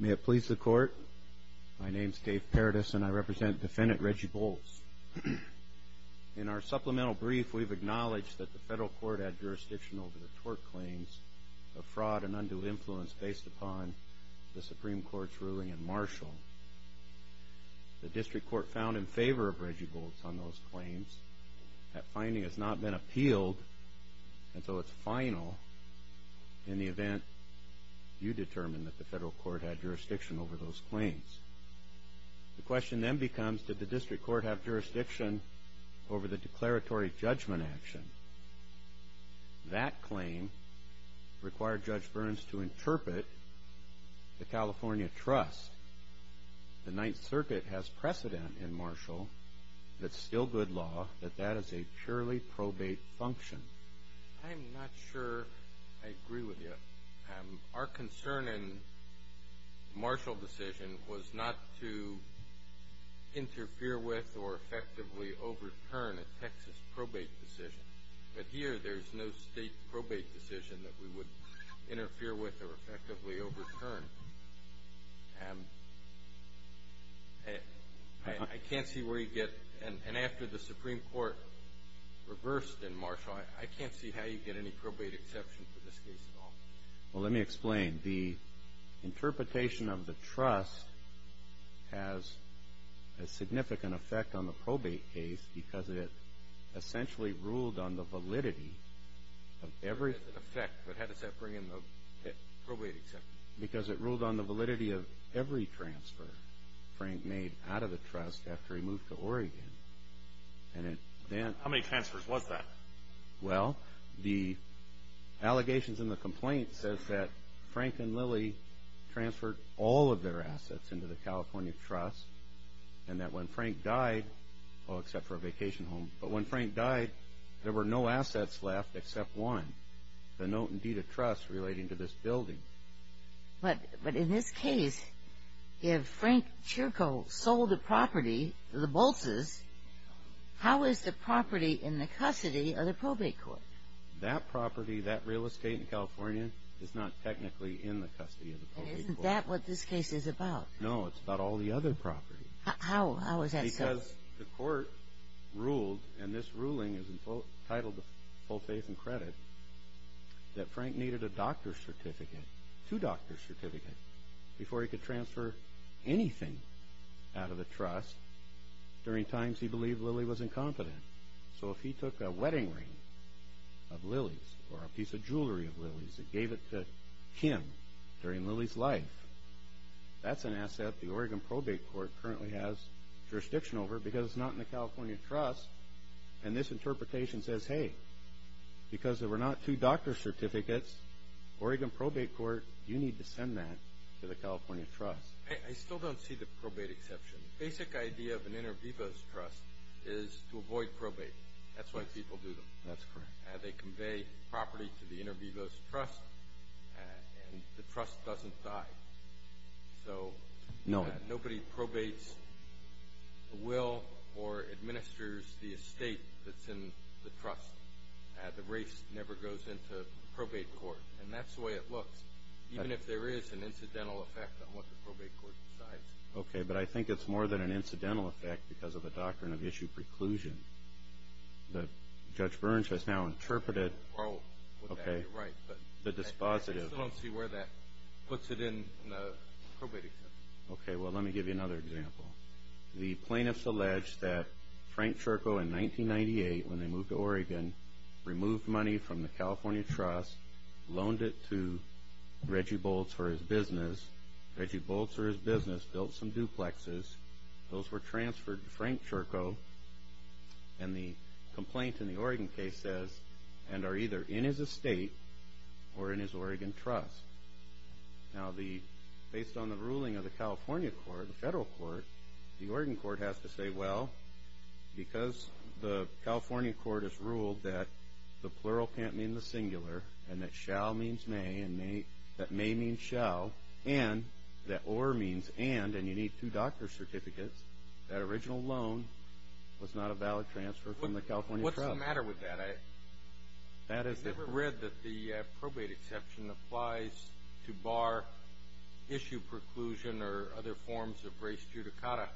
May it please the court, my name is Dave Paradis and I represent defendant Reggie Boltz. In our supplemental brief we've acknowledged that the federal court had jurisdiction over the tort claims of fraud and undue influence based upon the Supreme Court's ruling in Marshall. The district court found in favor of Reggie Boltz on those claims. That finding has not been appealed until its final in the court. You determined that the federal court had jurisdiction over those claims. The question then becomes did the district court have jurisdiction over the declaratory judgment action? That claim required Judge Burns to interpret the California Trust. The Ninth Circuit has precedent in Marshall that's still good law, that that is a purely probate function. I'm not sure I agree with you. Our concern in Marshall decision was not to interfere with or effectively overturn a Texas probate decision, but here there's no state probate decision that we would interfere with or effectively overturn. I can't see where you get, and after the Supreme Court reversed in Marshall, I can't see how you'd get any probate exception for this case at all. Well, let me explain. The interpretation of the trust has a significant effect on the probate case because it essentially ruled on the validity of every... Effect, but how does that bring in the probate exception? Because it ruled on the validity of every transfer Frank made out of the trust after he moved to Oregon. And then... How many transfers was that? Well, the allegations in the complaint says that Frank and Lily transferred all of their assets into the California Trust and that when Frank died, well except for a vacation home, but when Frank died there were no assets left except one, the Note and Deed of Trust relating to this building. But, but in this case, if Frank Chirko sold the property, the Bolses, how is the property in the custody of the probate court? That property, that real estate in California, is not technically in the custody of the probate court. Isn't that what this case is about? No, it's about all the other property. How, how is that so? Because the court ruled, and this ruling is entitled to full faith and credit, that Frank needed a doctor's certificate, two doctor's certificates, before he could transfer anything out of the trust. During times he believed Lily was incompetent, so if he took a wedding ring of Lily's or a piece of jewelry of Lily's and gave it to him during Lily's life, that's an asset the Oregon probate court currently has jurisdiction over because it's not in the California Trust. And this interpretation says, hey, because there were not two doctor's certificates, Oregon probate court, you need to send that to the California Trust. I still don't see the probate exception. The basic idea of an inter vivos trust is to avoid probate. That's why people do them. That's correct. They convey property to the inter vivos trust, and the trust doesn't die. So, nobody probates, will, or administers the estate that's in the trust. The race never goes into probate court, and that's the way it looks. Even if there is an incidental effect on what the probate court decides. Okay, but I think it's more than an incidental effect because of the doctrine of issue preclusion. Judge Burns has now interpreted the dispositive. I still don't see where that puts it in the probate exception. Okay, well, let me give you another example. The plaintiffs allege that Frank Cherko in 1998, when they moved to Reggie Bolts for his business, built some duplexes. Those were transferred to Frank Cherko, and the complaint in the Oregon case says, and are either in his estate or in his Oregon trust. Now, based on the ruling of the California court, the federal court, the Oregon court has to say, well, because the California court has ruled that the plural can't mean the singular, and that shall means may, and that may mean shall, and that or means and, and you need two doctor's certificates, that original loan was not a valid transfer from the California trust. What's the matter with that? I've never read that the probate exception applies to bar issue preclusion or other forms of race judicata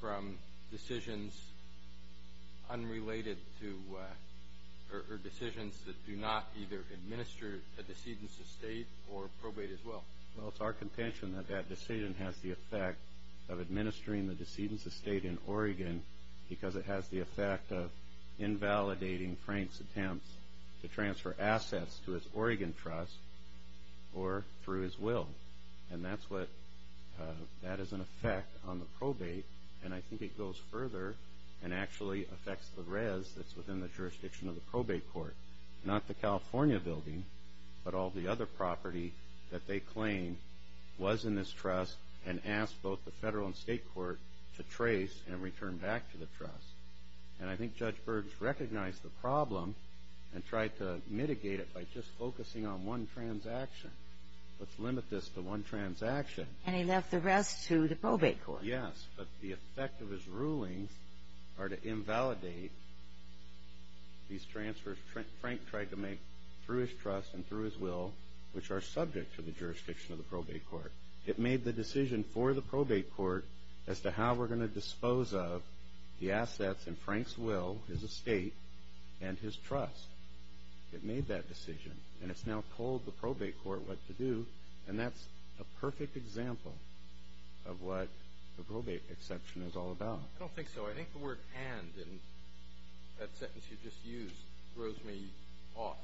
from decisions unrelated to, or decisions that do not either administer a decedent's estate or probate as well. Well, it's our contention that that decision has the effect of administering the decedent's estate in Oregon because it has the effect of invalidating Frank's attempts to transfer assets to his Oregon trust or through his will, and that's what, that is an effect on the probate, and I think it goes further and actually affects the res that's within the jurisdiction of the probate court, not the California building, but all the other property that they claim was in this trust and asked both the federal and state court to trace and return back to the trust. And I think Judge Berg recognized the problem and tried to mitigate it by just focusing on one transaction. Let's limit this to one transaction. And he left the rest to the probate court. Yes, but the effect of his rulings are to invalidate these transfers Frank tried to make through his trust and through his will, which are subject to the jurisdiction of the probate court. It made the decision for the probate court as to how we're going to dispose of the assets in Frank's will, his estate, and his trust. It made that decision, and it's now told the probate court what to do, and that's a perfect example of what the probate exception is all about. I don't think so. I think the word and, in that sentence you just used, throws me off.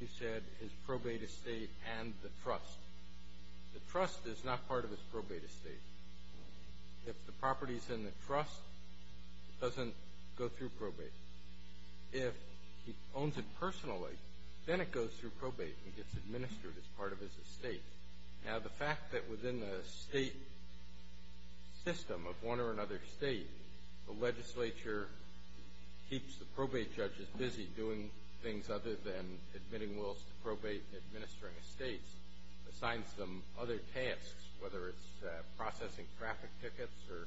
You said his probate estate and the trust. The trust is not part of his probate estate. If the property is in the trust, it doesn't go through probate. If he owns it personally, then it goes through probate and gets administered as part of his estate. Now, the fact that within the state system of one or another state, the legislature keeps the probate judges busy doing things other than admitting wills to probate and administering estates, assigns them other tasks, whether it's processing traffic tickets or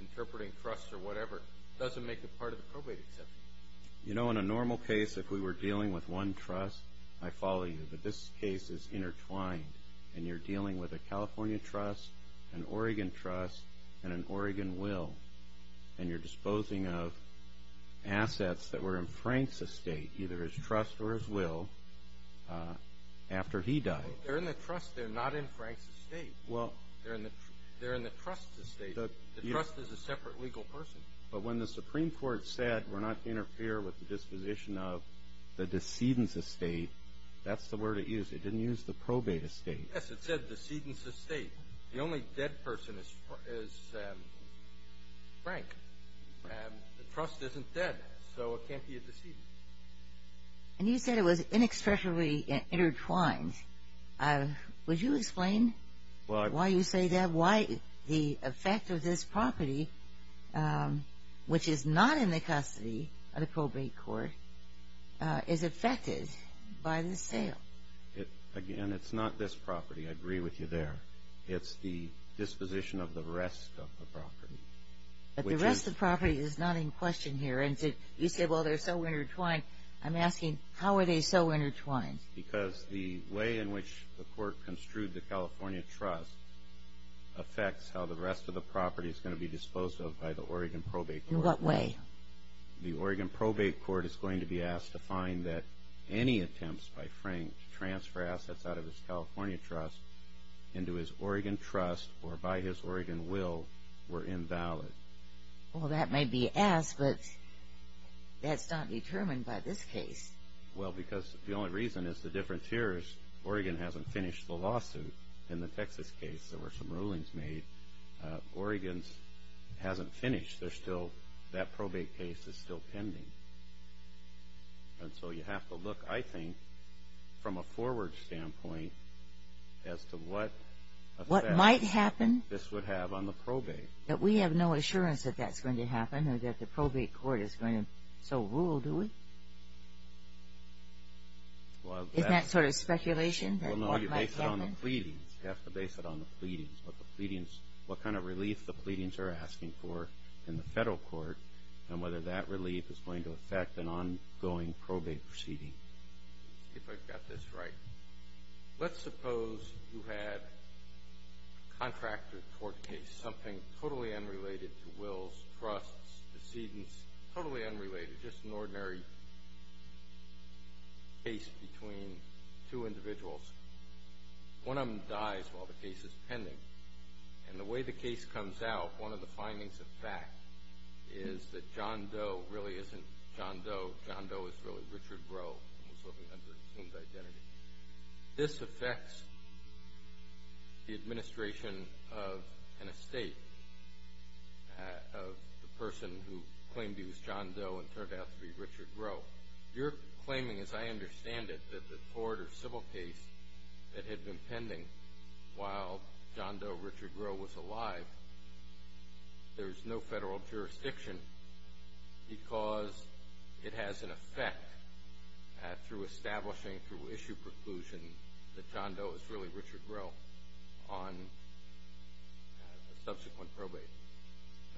interpreting trusts or you know, in a normal case, if we were dealing with one trust, I follow you, but this case is intertwined, and you're dealing with a California trust, an Oregon trust, and an Oregon will, and you're disposing of assets that were in Frank's estate, either his trust or his will, after he died. They're in the trust. They're not in Frank's estate. Well. They're in the trust's estate. The trust is a separate legal person. But when the Supreme Court said, we're not to interfere with the disposition of the decedent's estate, that's the word it used. It didn't use the probate estate. Yes, it said decedent's estate. The only dead person is Frank. And the trust isn't dead, so it can't be a decedent. And you said it was inexpressibly intertwined. Would you explain why you say that the property, which is not in the custody of the probate court, is affected by the sale? Again, it's not this property. I agree with you there. It's the disposition of the rest of the property. But the rest of the property is not in question here. And you say, well, they're so intertwined. I'm asking, how are they so intertwined? Because the way in which the court construed the California trust affects how the rest of the property is going to be disposed of by the Oregon probate court. In what way? The Oregon probate court is going to be asked to find that any attempts by Frank to transfer assets out of his California trust into his Oregon trust, or by his Oregon will, were invalid. Well, that may be asked, but that's not determined by this case. Well, because the only reason is the difference here is Oregon hasn't finished the lawsuit. In the Texas case, there were some rulings made. Oregon hasn't finished. That probate case is still pending. And so you have to look, I think, from a forward standpoint as to what effect this would have on the probate. But we have no assurance that that's going to happen, or that the probate court is going to so rule, do we? Isn't that sort of speculation? Well, no. You base it on the pleadings. You have to base it on the pleadings, what the pleadings, what kind of relief the pleadings are asking for in the federal court, and whether that relief is going to affect an ongoing probate proceeding. Let's see if I've got this right. Let's suppose you had a contractor court case, something totally unrelated to wills, trusts, decedents, totally individuals. One of them dies while the case is pending. And the way the case comes out, one of the findings of fact is that John Doe really isn't John Doe. John Doe is really Richard Rowe, who was living under the assumed identity. This affects the administration of an estate of the person who claimed he was John Doe and turned out to be Richard Rowe. You're claiming, as I understand it, that the court or civil case that had been pending while John Doe, Richard Rowe was alive, there's no federal jurisdiction because it has an effect through establishing, through issue preclusion, that John Doe is really Richard Rowe on a subsequent probate.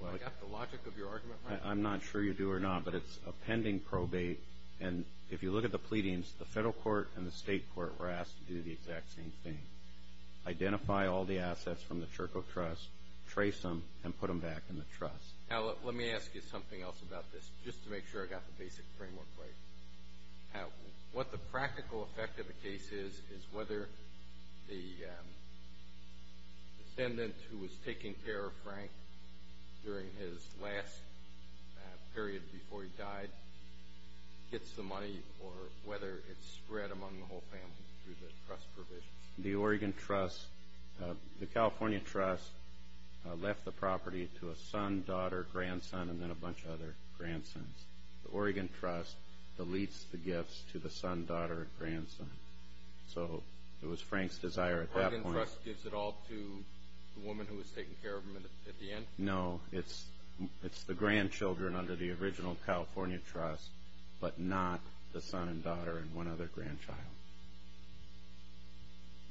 Have I got the logic of your argument right? I'm not sure you do or not, but it's a pending probate. And if you look at the pleadings, the federal court and the state court were asked to do the exact same thing. Identify all the assets from the Churchill Trust, trace them, and put them back in the trust. Now, let me ask you something else about this, just to make sure I got the basic framework right. What the practical effect of a case is, is whether the descendant who was taking care of Frank during his last period before he died, whether it's spread among the whole family through the trust provision? The Oregon Trust, the California Trust, left the property to a son, daughter, grandson, and then a bunch of other grandsons. The Oregon Trust deletes the gifts to the son, daughter, grandson. So it was Frank's desire at that point. The Oregon Trust gives it all to the woman who was taking care of him at the end? No, it's the grandchildren under the original California Trust, but not the son and daughter and one other grandchild.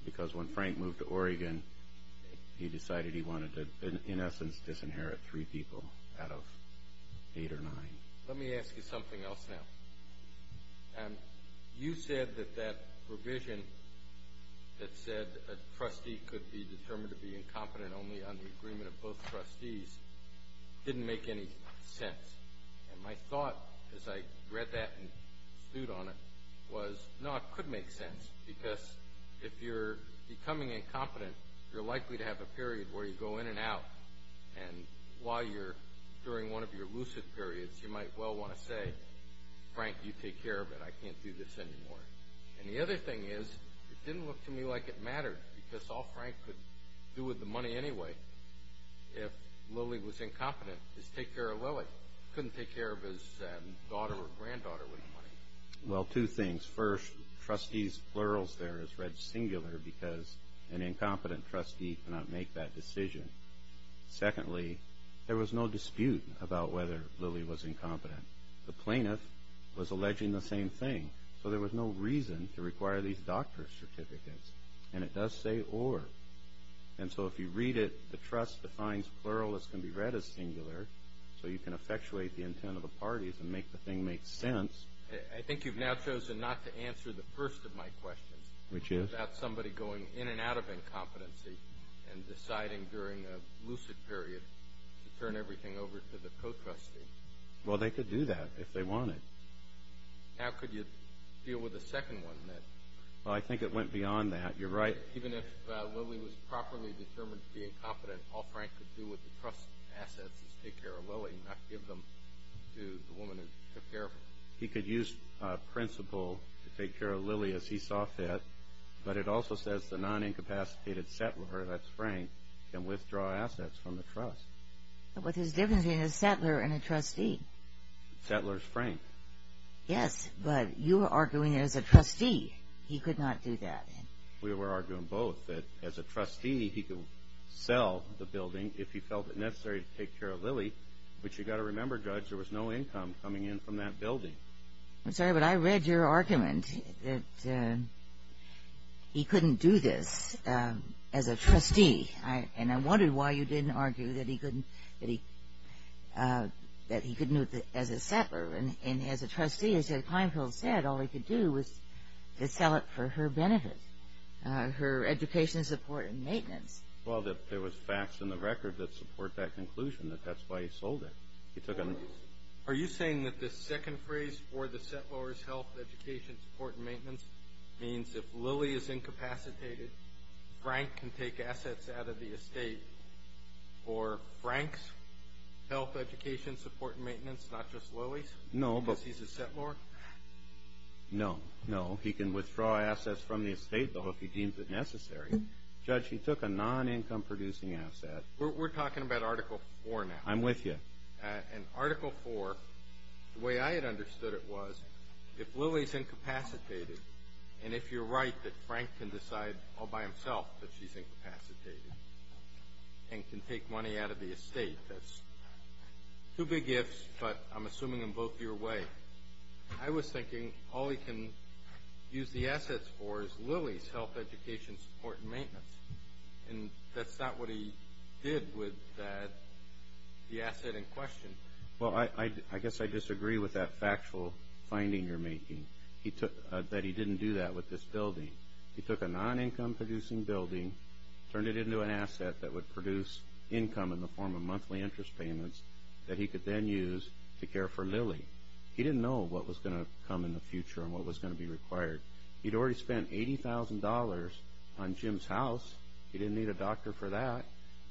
Because when Frank moved to Oregon, he decided he wanted to, in essence, disinherit three people out of eight or nine. Let me ask you something else now. You said that that provision that said a trustee could be determined to be incompetent only on the agreement of both trustees didn't make any sense. And my thought, as I read that and stood on it, was no, it could make sense. Because if you're becoming incompetent, you're likely to have a period where you go in and out. And while you're during one of your lucid periods, you might well want to say, Frank, you take care of it. I can't do this anymore. And the other thing is, it didn't look to me like it mattered, because all Frank could do with the money anyway, if Lily was incompetent, is take care of Lily. Couldn't take care of his daughter or granddaughter with the money. Well, two things. First, trustees' plurals there is read singular, because an incompetent trustee cannot make that decision. Secondly, there was no dispute about whether Lily was incompetent. The plaintiff was alleging the same thing. So there was no reason to require these doctor's certificates. And it does say or. And so if you read it, the trust defines plural as can be read as singular. So you can effectuate the intent of the parties and make the thing make sense. I think you've now chosen not to answer the first of my questions. Which is? About somebody going in and out of incompetency and deciding during a lucid period to turn everything over to the co-trustee. Well, they could do that if they wanted. How could you deal with the second one then? Well, I think it went beyond that. You're right. Even if Lily was properly determined to be incompetent, all Frank could do with the trust assets is take care of Lily, not give them to the woman who took care of her. He could use principle to take care of Lily as he saw fit. But it also says the non-incapacitated settler, that's Frank, can withdraw assets from the trust. But what's his difference between a settler and a trustee? Settler's Frank. Yes, but you are arguing that as a trustee, he could not do that. We were arguing both. That as a trustee, he could sell the building if he felt it necessary to take care of Lily. But remember, Judge, there was no income coming in from that building. I'm sorry, but I read your argument that he couldn't do this as a trustee. And I wondered why you didn't argue that he couldn't do it as a settler. And as a trustee, as Clinefield said, all he could do was to sell it for her benefit, her education support and maintenance. Well, there was facts in the record that support that conclusion, that that's why he sold it. Are you saying that the second phrase for the settler's health, education, support, and maintenance means if Lily is incapacitated, Frank can take assets out of the estate for Frank's health, education, support, and maintenance, not just Lily's, because he's a settler? No, no. He can withdraw assets from the estate though if he deems it necessary. Judge, he about Article 4 now. I'm with you. And Article 4, the way I had understood it was, if Lily's incapacitated, and if you're right that Frank can decide all by himself that she's incapacitated and can take money out of the estate, that's two big ifs, but I'm assuming them both your way. I was thinking all he can use the assets for is Lily's health, education, support, and maintenance. And that's not what he did with the asset in question. Well, I guess I disagree with that factual finding you're making, that he didn't do that with this building. He took a non-income producing building, turned it into an asset that would produce income in the form of monthly interest payments that he could then use to care for Lily. He didn't know what was going to come in the future and what was going to be required. He'd already spent $80,000 on Jim's house. He didn't need a doctor for that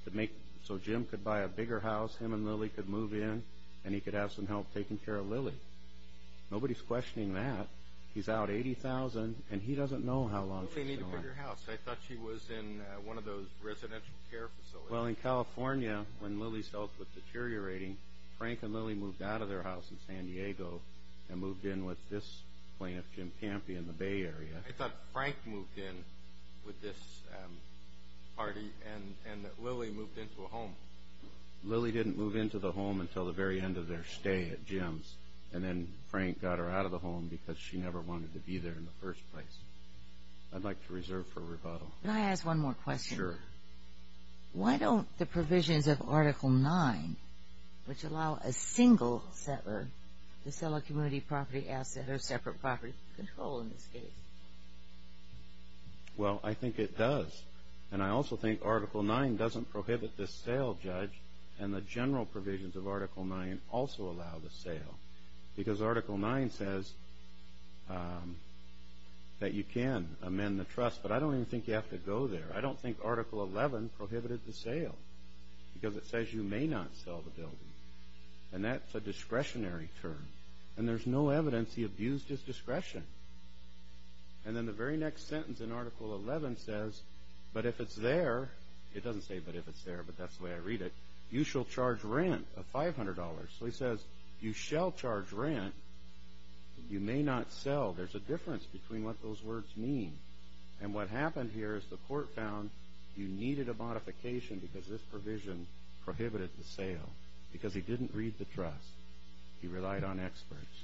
to make, so Jim could buy a bigger house, him and Lily could move in, and he could have some help taking care of Lily. Nobody's questioning that. He's out $80,000, and he doesn't know how long it's going to last. Nobody needed a bigger house. I thought she was in one of those residential care facilities. Well, in California, when Lily's health was deteriorating, Frank and Lily moved out of their house in San Diego and moved in with this plaintiff, Jim Campion, in the Bay Area. I thought Frank moved in with this party and that Lily moved into a home. Lily didn't move into the home until the very end of their stay at Jim's, and then Frank got her out of the home because she never wanted to be there in the first place. I'd like to reserve for rebuttal. Can I ask one more question? Sure. Why don't the provisions of Article 9, which allow a single settler to sell a community property asset or separate property, control in this case? Well, I think it does, and I also think Article 9 doesn't prohibit the sale, Judge, and the general provisions of Article 9 also allow the sale, because Article 9 says that you can amend the trust, but I don't even think you have to go there. I don't think Article 11 prohibited the sale, because it says you may not sell the building, and that's a discretionary term, and there's no evidence he abused his discretion. And then the very next sentence in Article 11 says, but if it's there, it doesn't say but if it's there, but that's the way I read it, you shall charge rent of $500. So he says, you shall charge rent, you may not sell. There's a difference between what those words mean, and what happened here is the court found you needed a modification because this provision prohibited the sale, because he didn't read the trust. He relied on experts,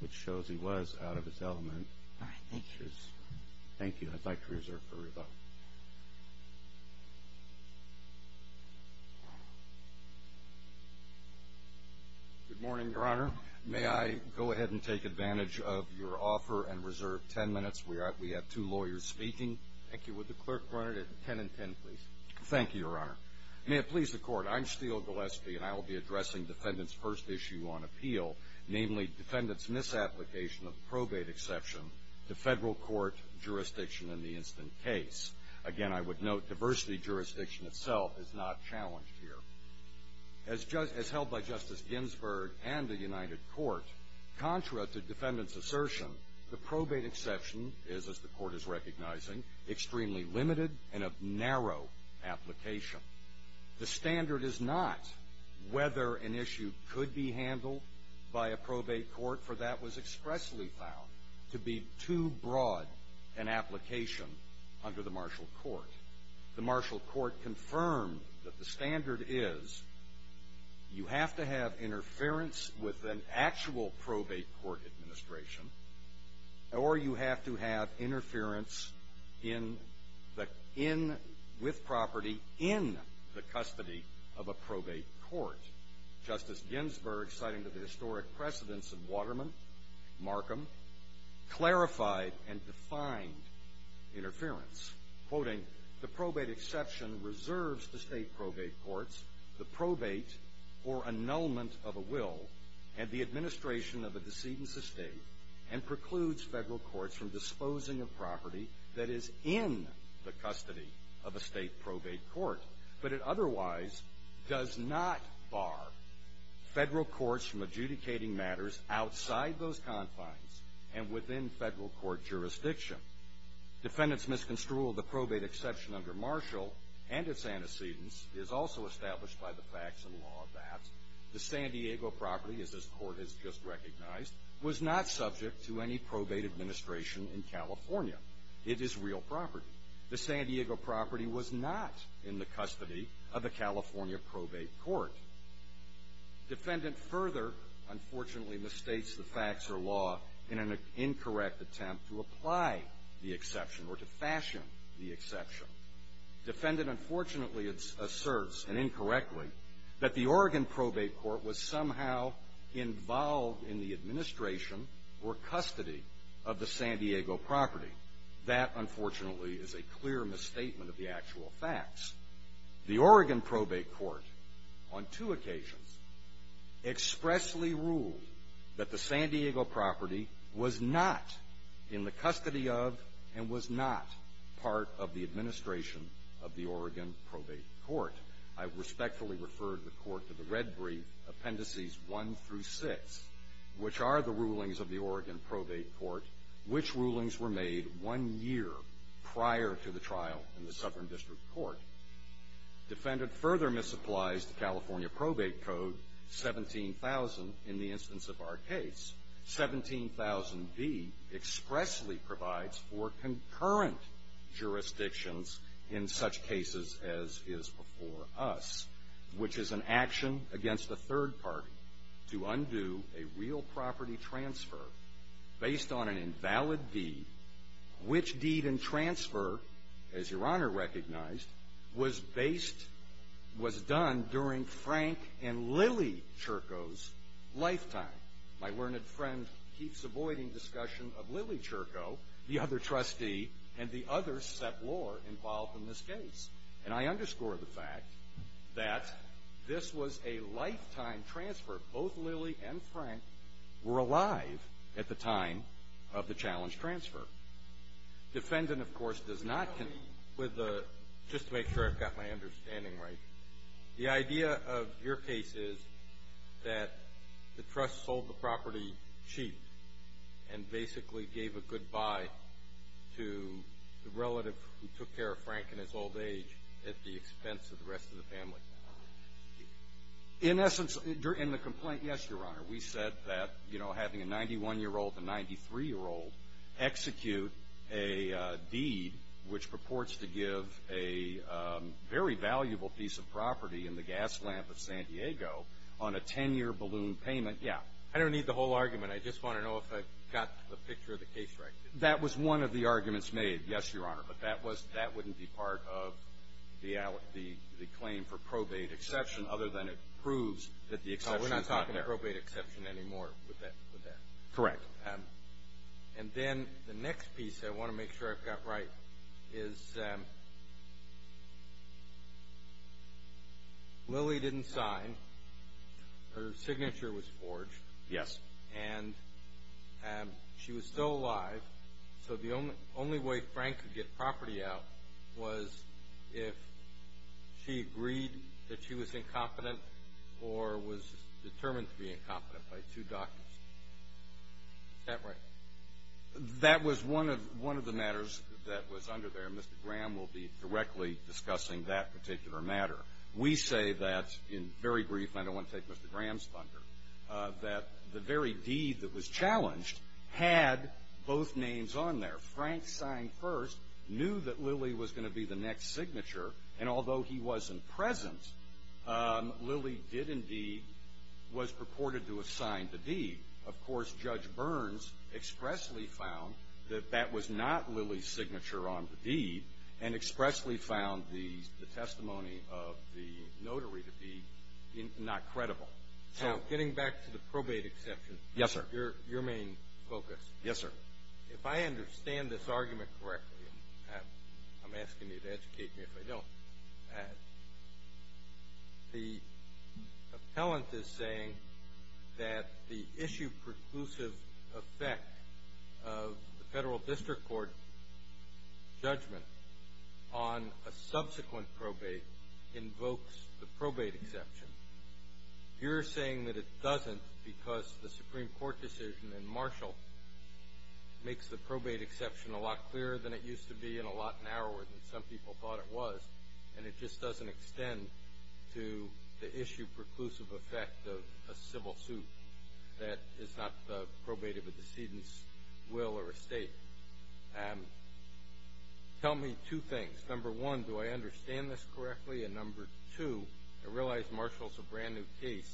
which shows he was out of his element. Thank you. I'd like to reserve for rebuttal. Good morning, Your Honor. May I go ahead and take advantage of your offer and reserve 10 minutes? We have two lawyers speaking. Thank you. Would the Thank you, Your Honor. May it please the court, I'm Steele Gillespie, and I will be addressing defendant's first issue on appeal, namely defendant's misapplication of probate exception to federal court jurisdiction in the instant case. Again, I would note diversity jurisdiction itself is not challenged here. As held by Justice Ginsburg and the United Court, contra to defendant's assertion, the probate exception is, as the court is recognizing, extremely limited and of application. The standard is not whether an issue could be handled by a probate court, for that was expressly found to be too broad an application under the martial court. The martial court confirmed that the standard is you have to have interference with an actual probate court administration, or you have to have interference with property in the custody of a probate court. Justice Ginsburg, citing the historic precedence of Waterman, Markham, clarified and defined interference, quoting, the probate exception reserves the state probate courts the probate or annulment of a will and the administration of a disposing of property that is in the custody of a state probate court, but it otherwise does not bar federal courts from adjudicating matters outside those confines and within federal court jurisdiction. Defendant's misconstrual of the probate exception under martial and its antecedents is also established by the facts and law of that. The San Diego property, as this court has just in California, it is real property. The San Diego property was not in the custody of a California probate court. Defendant further, unfortunately, mistakes the facts or law in an incorrect attempt to apply the exception or to fashion the exception. Defendant, unfortunately, asserts, and incorrectly, that the Oregon probate court was somehow involved in the administration or custody of the San Diego property. That, unfortunately, is a clear misstatement of the actual facts. The Oregon probate court, on two occasions, expressly ruled that the San Diego property was not in the custody of and was not part of the administration of the Oregon probate court. I respectfully referred the court to the red brief appendices one through six, which are the rulings of the Oregon probate court, which rulings were made one year prior to the trial in the Southern District Court. Defendant further misapplies the California probate code 17,000 in the instance of our case. 17,000B expressly provides for concurrent jurisdictions in such cases as is before us, which is an action against the third party to undo a real property transfer based on an invalid deed, which deed and transfer, as Your Honor recognized, was based, was done during Frank and Lily Churko's lifetime. My learned friend keeps avoiding discussion of Lily Churko, the other trustee, and the other seplor involved in this case. And I underscore the fact that this was a lifetime transfer. Both Lily and Frank were alive at the time of the challenge transfer. Defendant, of course, does not con- With the, just to make sure I've got my understanding right, the idea of your case is that the trust sold the property cheap and basically gave a goodbye to the relative who took care of Frank in his old age at the expense of the rest of the family. In essence, in the complaint, yes, Your Honor, we said that, you know, having a 91-year-old and a 93-year-old execute a deed which purports to give a very valuable piece of property in the gas lamp of San Diego on a 10-year balloon payment, yeah. I don't need the whole argument. I just want to know if I got the picture of the case right. That was one of the arguments made, yes, Your Honor, for the claim for probate exception other than it proves that the exception is not there. No, we're not talking probate exception anymore with that. Correct. And then the next piece I want to make sure I've got right is Lily didn't sign. Her signature was forged. Yes. And she was still alive, so the only She agreed that she was incompetent or was determined to be incompetent by two doctors. Is that right? That was one of the matters that was under there. Mr. Graham will be directly discussing that particular matter. We say that, in very brief, and I don't want to take Mr. Graham's thunder, that the very deed that was challenged had both names on there. Frank signed first, knew that Lily was going to be the next signature, and although he wasn't present, Lily did indeed was purported to have signed the deed. Of course, Judge Burns expressly found that that was not Lily's signature on the deed and expressly found the testimony of the notary, the deed, not credible. So getting back to the probate exception. Yes, sir. Your main focus. Yes, sir. If I understand this argument correctly, I'm asking you to educate me if I don't. The appellant is saying that the issue preclusive effect of the federal district court judgment on a subsequent probate invokes the probate exception. You're saying that it doesn't because the Supreme Court decision in Marshall makes the probate exception a lot clearer than it used to be and a lot narrower than some people thought it was, and it just doesn't extend to the issue preclusive effect of a civil suit that is not probated with decedent's will or estate. Tell me two things. Number one, do I understand this correctly? And number two, I realize Marshall's a brand new case.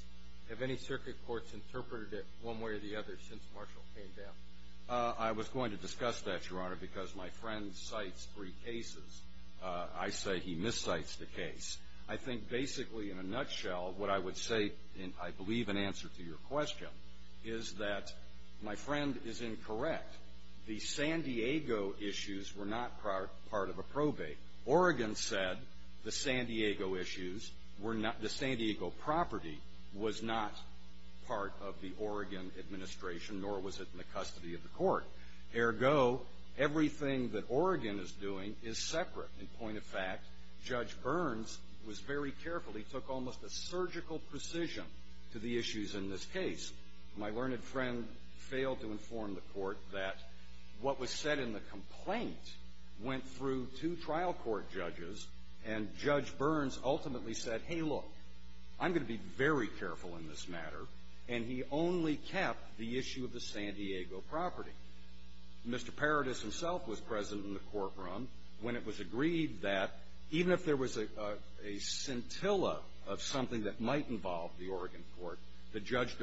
Have any circuit courts interpreted it one way or the other since Marshall came down? I was going to discuss that, Your Honor, because my friend cites three cases. I say he miscites the case. I think basically, in a nutshell, what I would say, and I believe an answer to your question, is that my friend is incorrect. The San Diego issues were not part of a probate. Oregon said the San Diego issues were not the San Diego property was not part of the Oregon administration nor was it in the custody of the court. Ergo, everything that Oregon is doing is separate. In point of fact, Judge Burns was very careful. He took almost a surgical precision to the issues in this case. My learned friend failed to inform the court that what was said in the complaint went through two trial court judges, and Judge Burns ultimately said, hey, look, I'm going to be very careful in this matter, and he only kept the issue of the San Diego property. Mr. Paradis himself was present in the courtroom when it was agreed that even if there was a scintilla of something that might involve the Oregon court, that Judge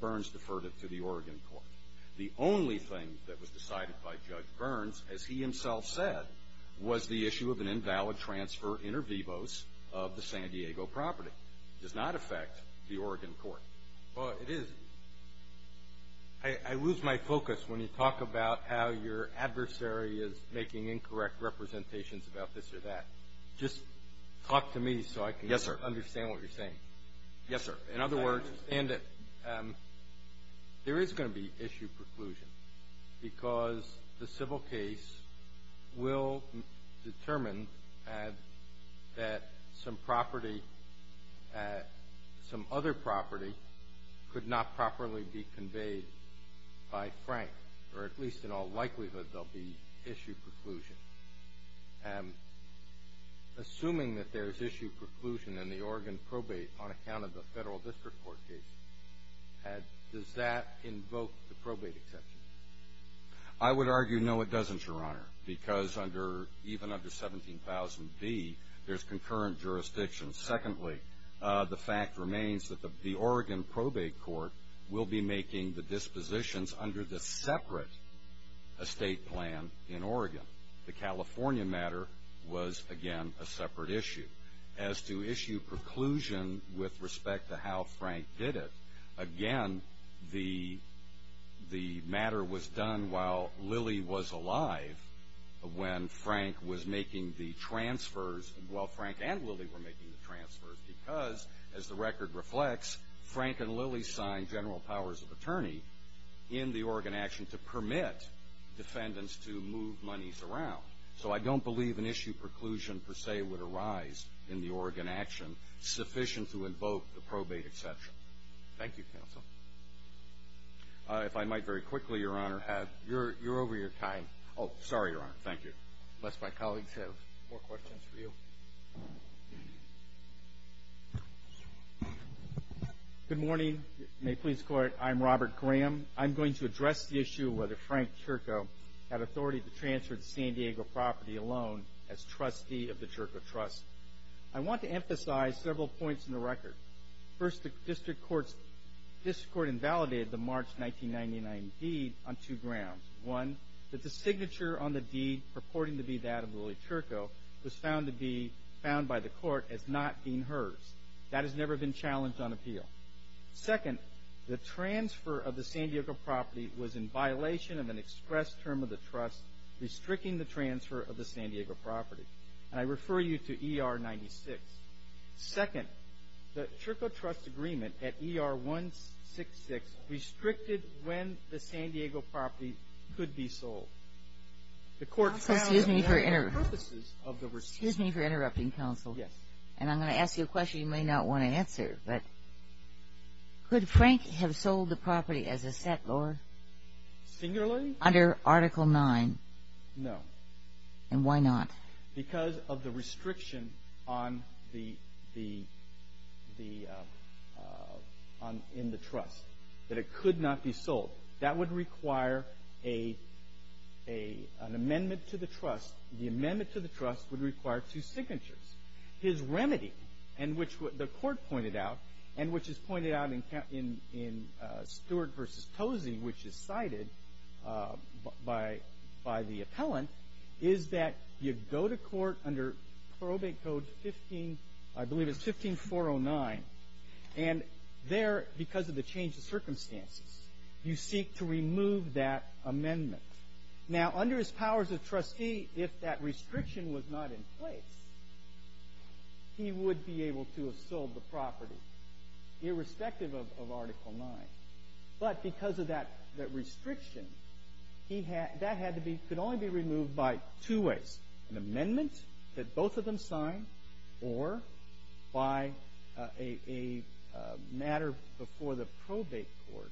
Burns deferred it to the Oregon court. The only thing that was decided by Judge Burns, as he himself said, was the issue of an invalid transfer inter vivos of the San Diego property. It does not affect the Oregon court. Well, it is. I lose my focus when you talk about how your adversary is making incorrect representations about this or that. Just talk to me so I can understand what you're saying. Yes, sir. In other words, there is going to be issue preclusion because the civil case will determine that some other property could not properly be conveyed by Frank, or at least in all likelihood there will be issue preclusion. Assuming that there is issue preclusion in the Oregon probate on account of the federal district court case, does that invoke the probate exception? I would argue no, it doesn't, Your Honor, because even under 17,000B, there's concurrent jurisdiction. Secondly, the fact remains that the Oregon probate court will be making the dispositions under the separate estate plan in Oregon. The California matter was, again, a separate issue. As to issue preclusion with respect to how Frank did it, again, the matter was done while Lillie was alive, when Frank was making the transfers, while Frank and Lillie were making the transfers, because, as the record reflects, Frank and Lillie signed general powers of attorney in the Oregon action to permit defendants to move monies around. So I don't believe an issue preclusion, per se, would arise in the Oregon action sufficient to invoke the probate exception. Thank you, counsel. If I might very quickly, Your Honor, have your, you're over your time. Oh, sorry, Your Honor. Thank you. Unless my colleagues have more questions for you. Good morning. May it please the court, I'm Robert Graham. I'm going to address the issue whether Frank Chirko had authority to transfer to San Diego property alone as trustee of the Chirko Trust. I want to emphasize several points in the record. First, the district court invalidated the March 1999 deed on two grounds. One, that the signature on the deed purporting to be that of Lillie Chirko was found to be found by the court as not being hers. That has never been challenged on appeal. Second, the transfer of the San Diego property was in violation of an express term of the trust, restricting the transfer of the San Diego property. And I refer you to ER 96. Second, the Chirko Trust agreement at ER 166 restricted when the San Diego property could be sold. The court found that for purposes of the receipt. Excuse me for interrupting, counsel. Yes. And I'm going to ask you a question you may not want to answer, but could Frank have sold the property as a set, Lord? Singularly? Under Article 9. No. And why not? Because of the restriction on the, in the trust, that it could not be sold. That would require an amendment to the trust. The amendment to the trust would require two signatures. His remedy, and which the is cited by, by the appellant, is that you go to court under probate code 15, I believe it's 15409. And there, because of the change of circumstances, you seek to remove that amendment. Now, under his powers of trustee, if that restriction was not in place, he would be able to have sold the property, irrespective of, of Article 9. But because of that, that restriction, he had, that had to be, could only be removed by two ways. An amendment that both of them signed, or by a, a matter before the probate court.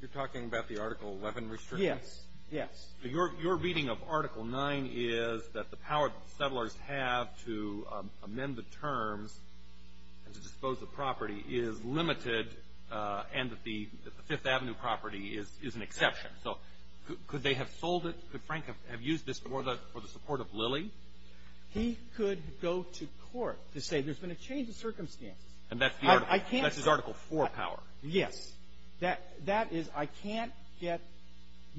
You're talking about the Article 11 restriction? Yes. Yes. Your, your reading of Article 9 is that the power that the settlers have to amend the terms and to dispose of the property is limited, and that the, that the Fifth Avenue property is, is an exception. So could, could they have sold it? Could Frank have used this for the, for the support of Lilly? He could go to court to say there's been a change of circumstances. And that's the Article. I can't. That's his Article 4 power. Yes. That, that is, I can't get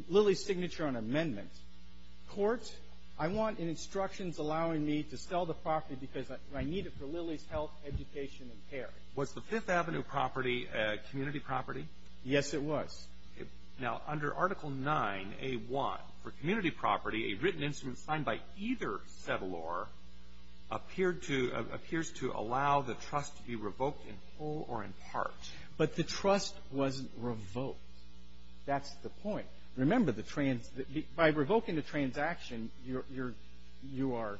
Lilly's signature on amendments. Court, I want instructions allowing me to sell the property because I, I need it for Lilly's health, education, and care. Was the Fifth Avenue property a community property? Yes, it was. Now, under Article 9a.1, for community property, a written instrument signed by either settlor appeared to, appears to allow the trust to be revoked in whole or in part. But the trust wasn't revoked. That's the point. Remember, the trans, the, by revoking the transaction, you're, you're, you are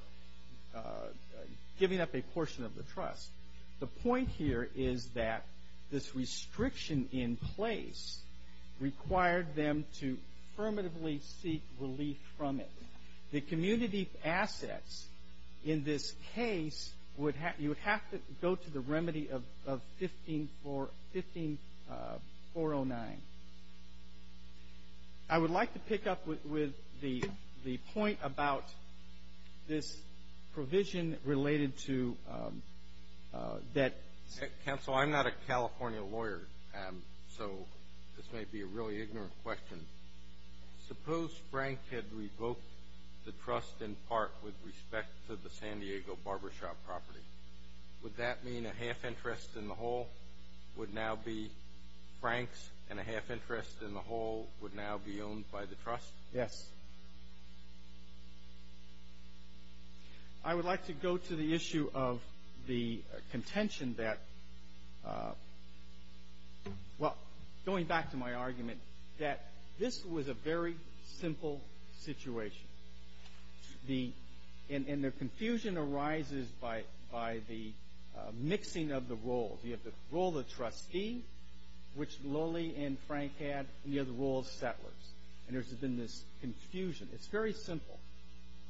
giving up a portion of the trust. The point here is that this restriction in place required them to affirmatively seek relief from it. The community assets in this case would have, you would have to go to the remedy of, of 15-4, 15-409. I would like to pick up with, with the, the point about this provision related to that. Counsel, I'm not a California lawyer, so this may be a really ignorant question. Suppose Frank had revoked the trust in part with respect to the San Diego barbershop property. Would that mean a half interest in the whole would now be Frank's, and a half interest in the whole would now be owned by the trust? Yes. I would like to go to the issue of the contention that, well, going back to my argument, that this was a very simple situation. The, and, and the confusion arises by, by the mixing of the roles. You have the role of trustee, which Lillie and Frank had, and you have the role of settlers. And there's been this confusion. It's very simple.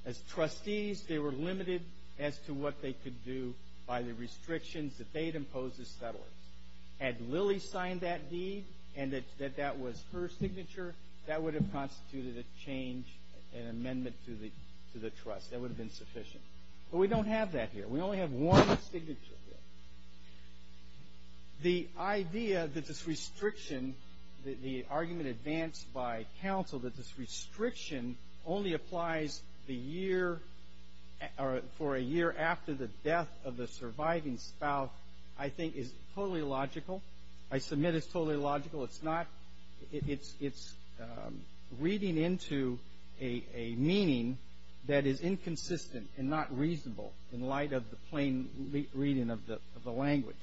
As trustees, they were limited as to what they could do by the restrictions that they'd imposed as settlers. Had Lillie signed that deed, and that, that that was her signature, that would have constituted a change, an amendment to the, to the trust. That would have been that here. We only have one signature here. The idea that this restriction, the, the argument advanced by counsel that this restriction only applies the year, or for a year after the death of the surviving spouse, I think is totally logical. I submit it's totally logical. It's not, it, it's, it's reading into a, a meaning that is inconsistent and not reasonable in light of the plain reading of the, of the language.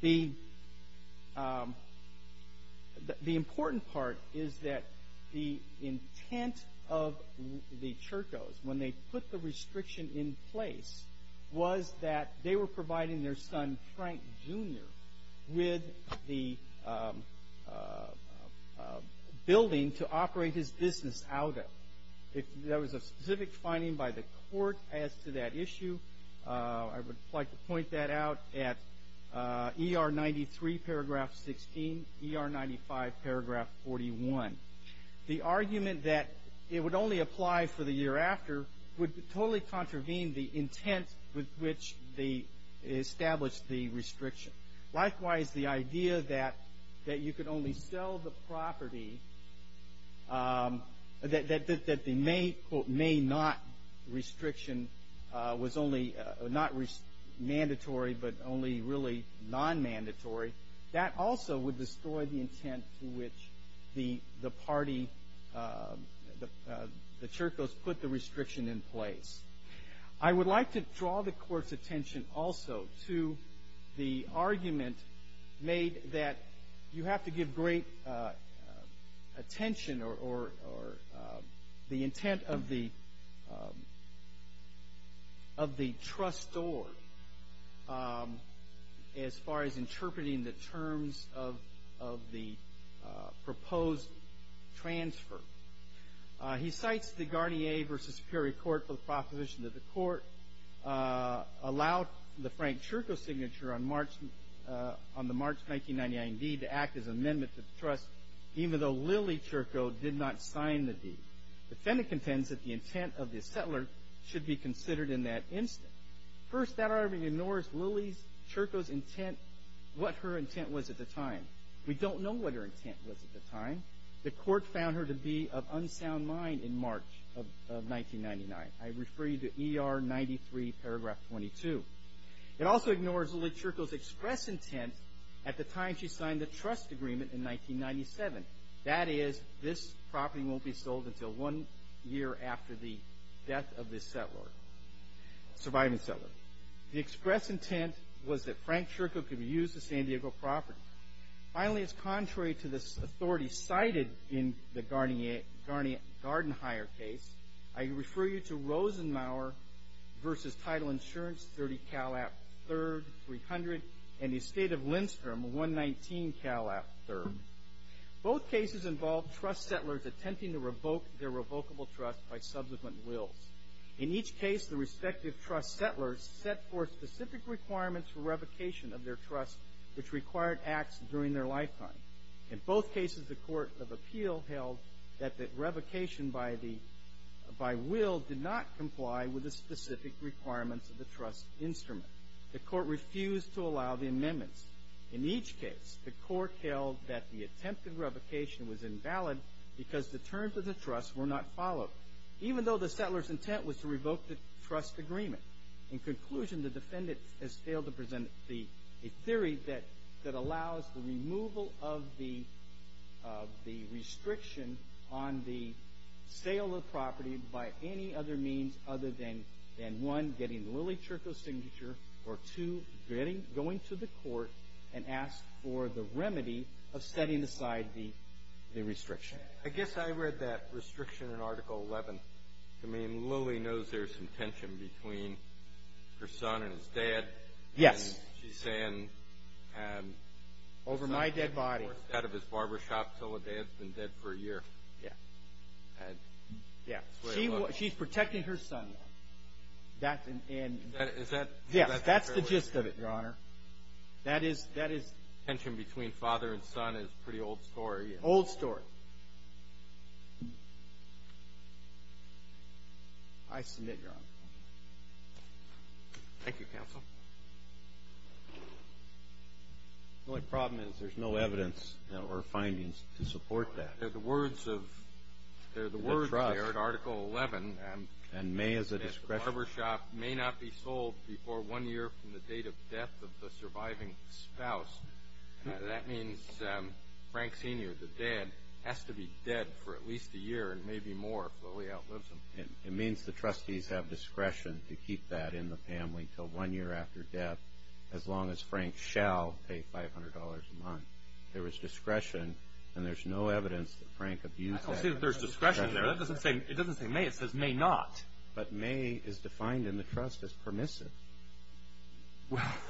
The, the important part is that the intent of the Churchos, when they put the restriction in place, was that they were providing their son, Frank Jr. with the building to operate his business out of. If there was a specific finding by the court as to that issue, I would like to point that out at ER 93, paragraph 16, ER 95, paragraph 41. The argument that it would only apply for the year after would totally contravene the intent with which they established the restriction. Likewise, the idea that, that you could only sell the property, that, that, that the may, quote, may not restriction was only, not mandatory, but only really non-mandatory, that also would destroy the intent to which the, the party, the, the Churchos put the restriction in place. I would like to draw the court's attention also to the argument made that you have to give great attention or, or, or the intent of the, of the trustor as far as interpreting the terms of, of the proposed transfer. He cites the Garnier v. Superior Court for the proposition that the court allowed the Frank Churcho signature on March, on the March 1999 deed to act as an amendment to the trust, even though Lily Churcho did not sign the deed. The Fennec intends that the intent of the settler should be considered in that instance. First, that argument ignores Lily's, Churcho's intent, what her intent was at the time. We don't know what her intent was at the time. The court found her to be of unsound mind in March of, of 1999. I refer you to ER 93, paragraph 22. It also ignores Lily Churcho's express intent at the time she signed the trust agreement in 1997. That is, this property won't be sold until one year after the death of this settler, surviving settler. The express intent was that Frank Churcho could use the San Diego property. Finally, as contrary to this authority cited in the Garnier, Garnier-Gardenhire case, I refer you to Rosenmauer v. Title Insurance, 30 Cal. App. 3rd, 300, and the estate of Lindstrom, 119 Cal. App. 3rd. Both cases involved trust settlers attempting to revoke their revocable trust by subsequent wills. In each case, the court refused to allow the amendments. In each case, the court held that the attempted revocation was invalid because the terms of the trust were not followed, even though the settler's intent was to revoke the trust agreement. In conclusion, the defendant has failed to address the theory that allows the removal of the restriction on the sale of property by any other means other than, one, getting Lily Churcho's signature, or two, going to the court and ask for the remedy of setting aside the restriction. I guess I read that restriction in Article 11. I mean, Lily knows there's some tension between her son and his dad, and she's saying... Over my dead body. Yeah. She's protecting her son, though. That's the gist of it, Your Honor. Tension between father and son is a pretty old story. Old story. I submit, Your Honor. Thank you, Counsel. The only problem is there's no evidence or findings to support that. They're the words there in Article 11. And may as a discretion... It means the trustees have discretion to keep that in the family until one year after death, as long as Frank shall pay $500 a month. There was discretion, and there's no evidence that Frank abused that. But may is defined in the trust as permissive.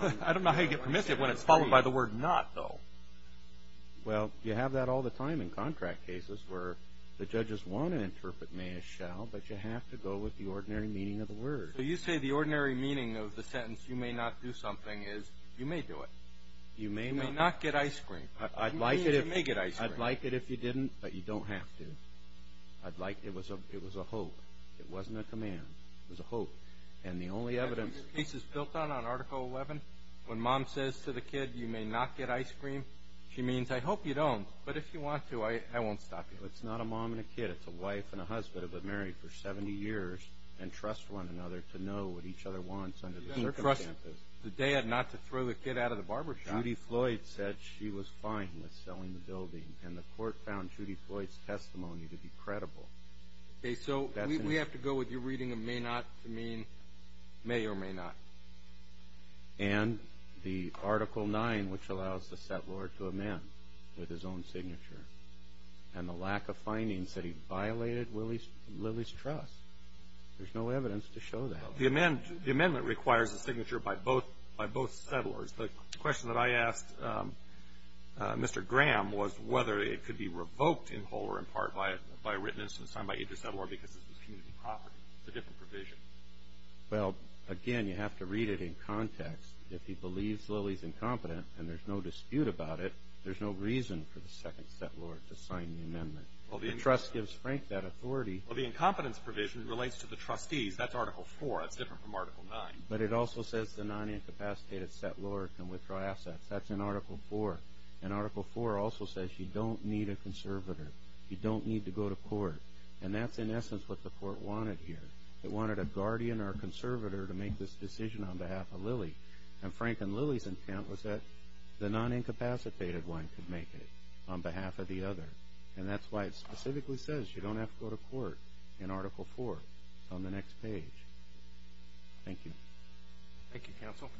I don't know how you get permissive when it's followed by the word not, though. Well, you have that all the time in contract cases where the judges want to interpret may as shall, but you have to go with the ordinary meaning of the word. So you say the ordinary meaning of the sentence, you may not do something, is you may do it. You may not get ice cream. You may get ice cream. I'd like it if you didn't, but you don't have to. It was a hope. It wasn't a command. It was a hope. And the only evidence... She means, I hope you don't, but if you want to, I won't stop you. You've got to trust the dad not to throw the kid out of the barber shop. Judy Floyd said she was fine with selling the building, and the court found Judy Floyd's testimony to be credible. Okay, so we have to go with your reading of may not to mean may or may not. And the Article 9, which allows the set Lord to amend with his own signature, and the lack of findings that he violated Lily's trust. There's no evidence to show that. The amendment requires a signature by both settlers. The question that I asked Mr. Graham was whether it could be revoked in whole or in part by a written instance signed by each settler because it was community property. It's a different provision. Well, again, you have to read it in context. If he believes Lily's incompetent and there's no dispute about it, there's no reason for the second set Lord to sign the amendment. The trust gives Frank that authority. Well, the incompetence provision relates to the trustees. That's Article 4. That's different from Article 9. But it also says the non-incapacitated set Lord can withdraw assets. That's in Article 4. And Article 4 also says you don't need a conservator. You don't need to go to court. And that's in essence what the court wanted here. It wanted a guardian or a conservator to make this decision on behalf of Lily. And Frank and Lily's intent was that the non-incapacitated one could make it on behalf of the other. And that's why it specifically says you don't have to go to court in Article 4 on the next page. Thank you. Thank you, Counsel.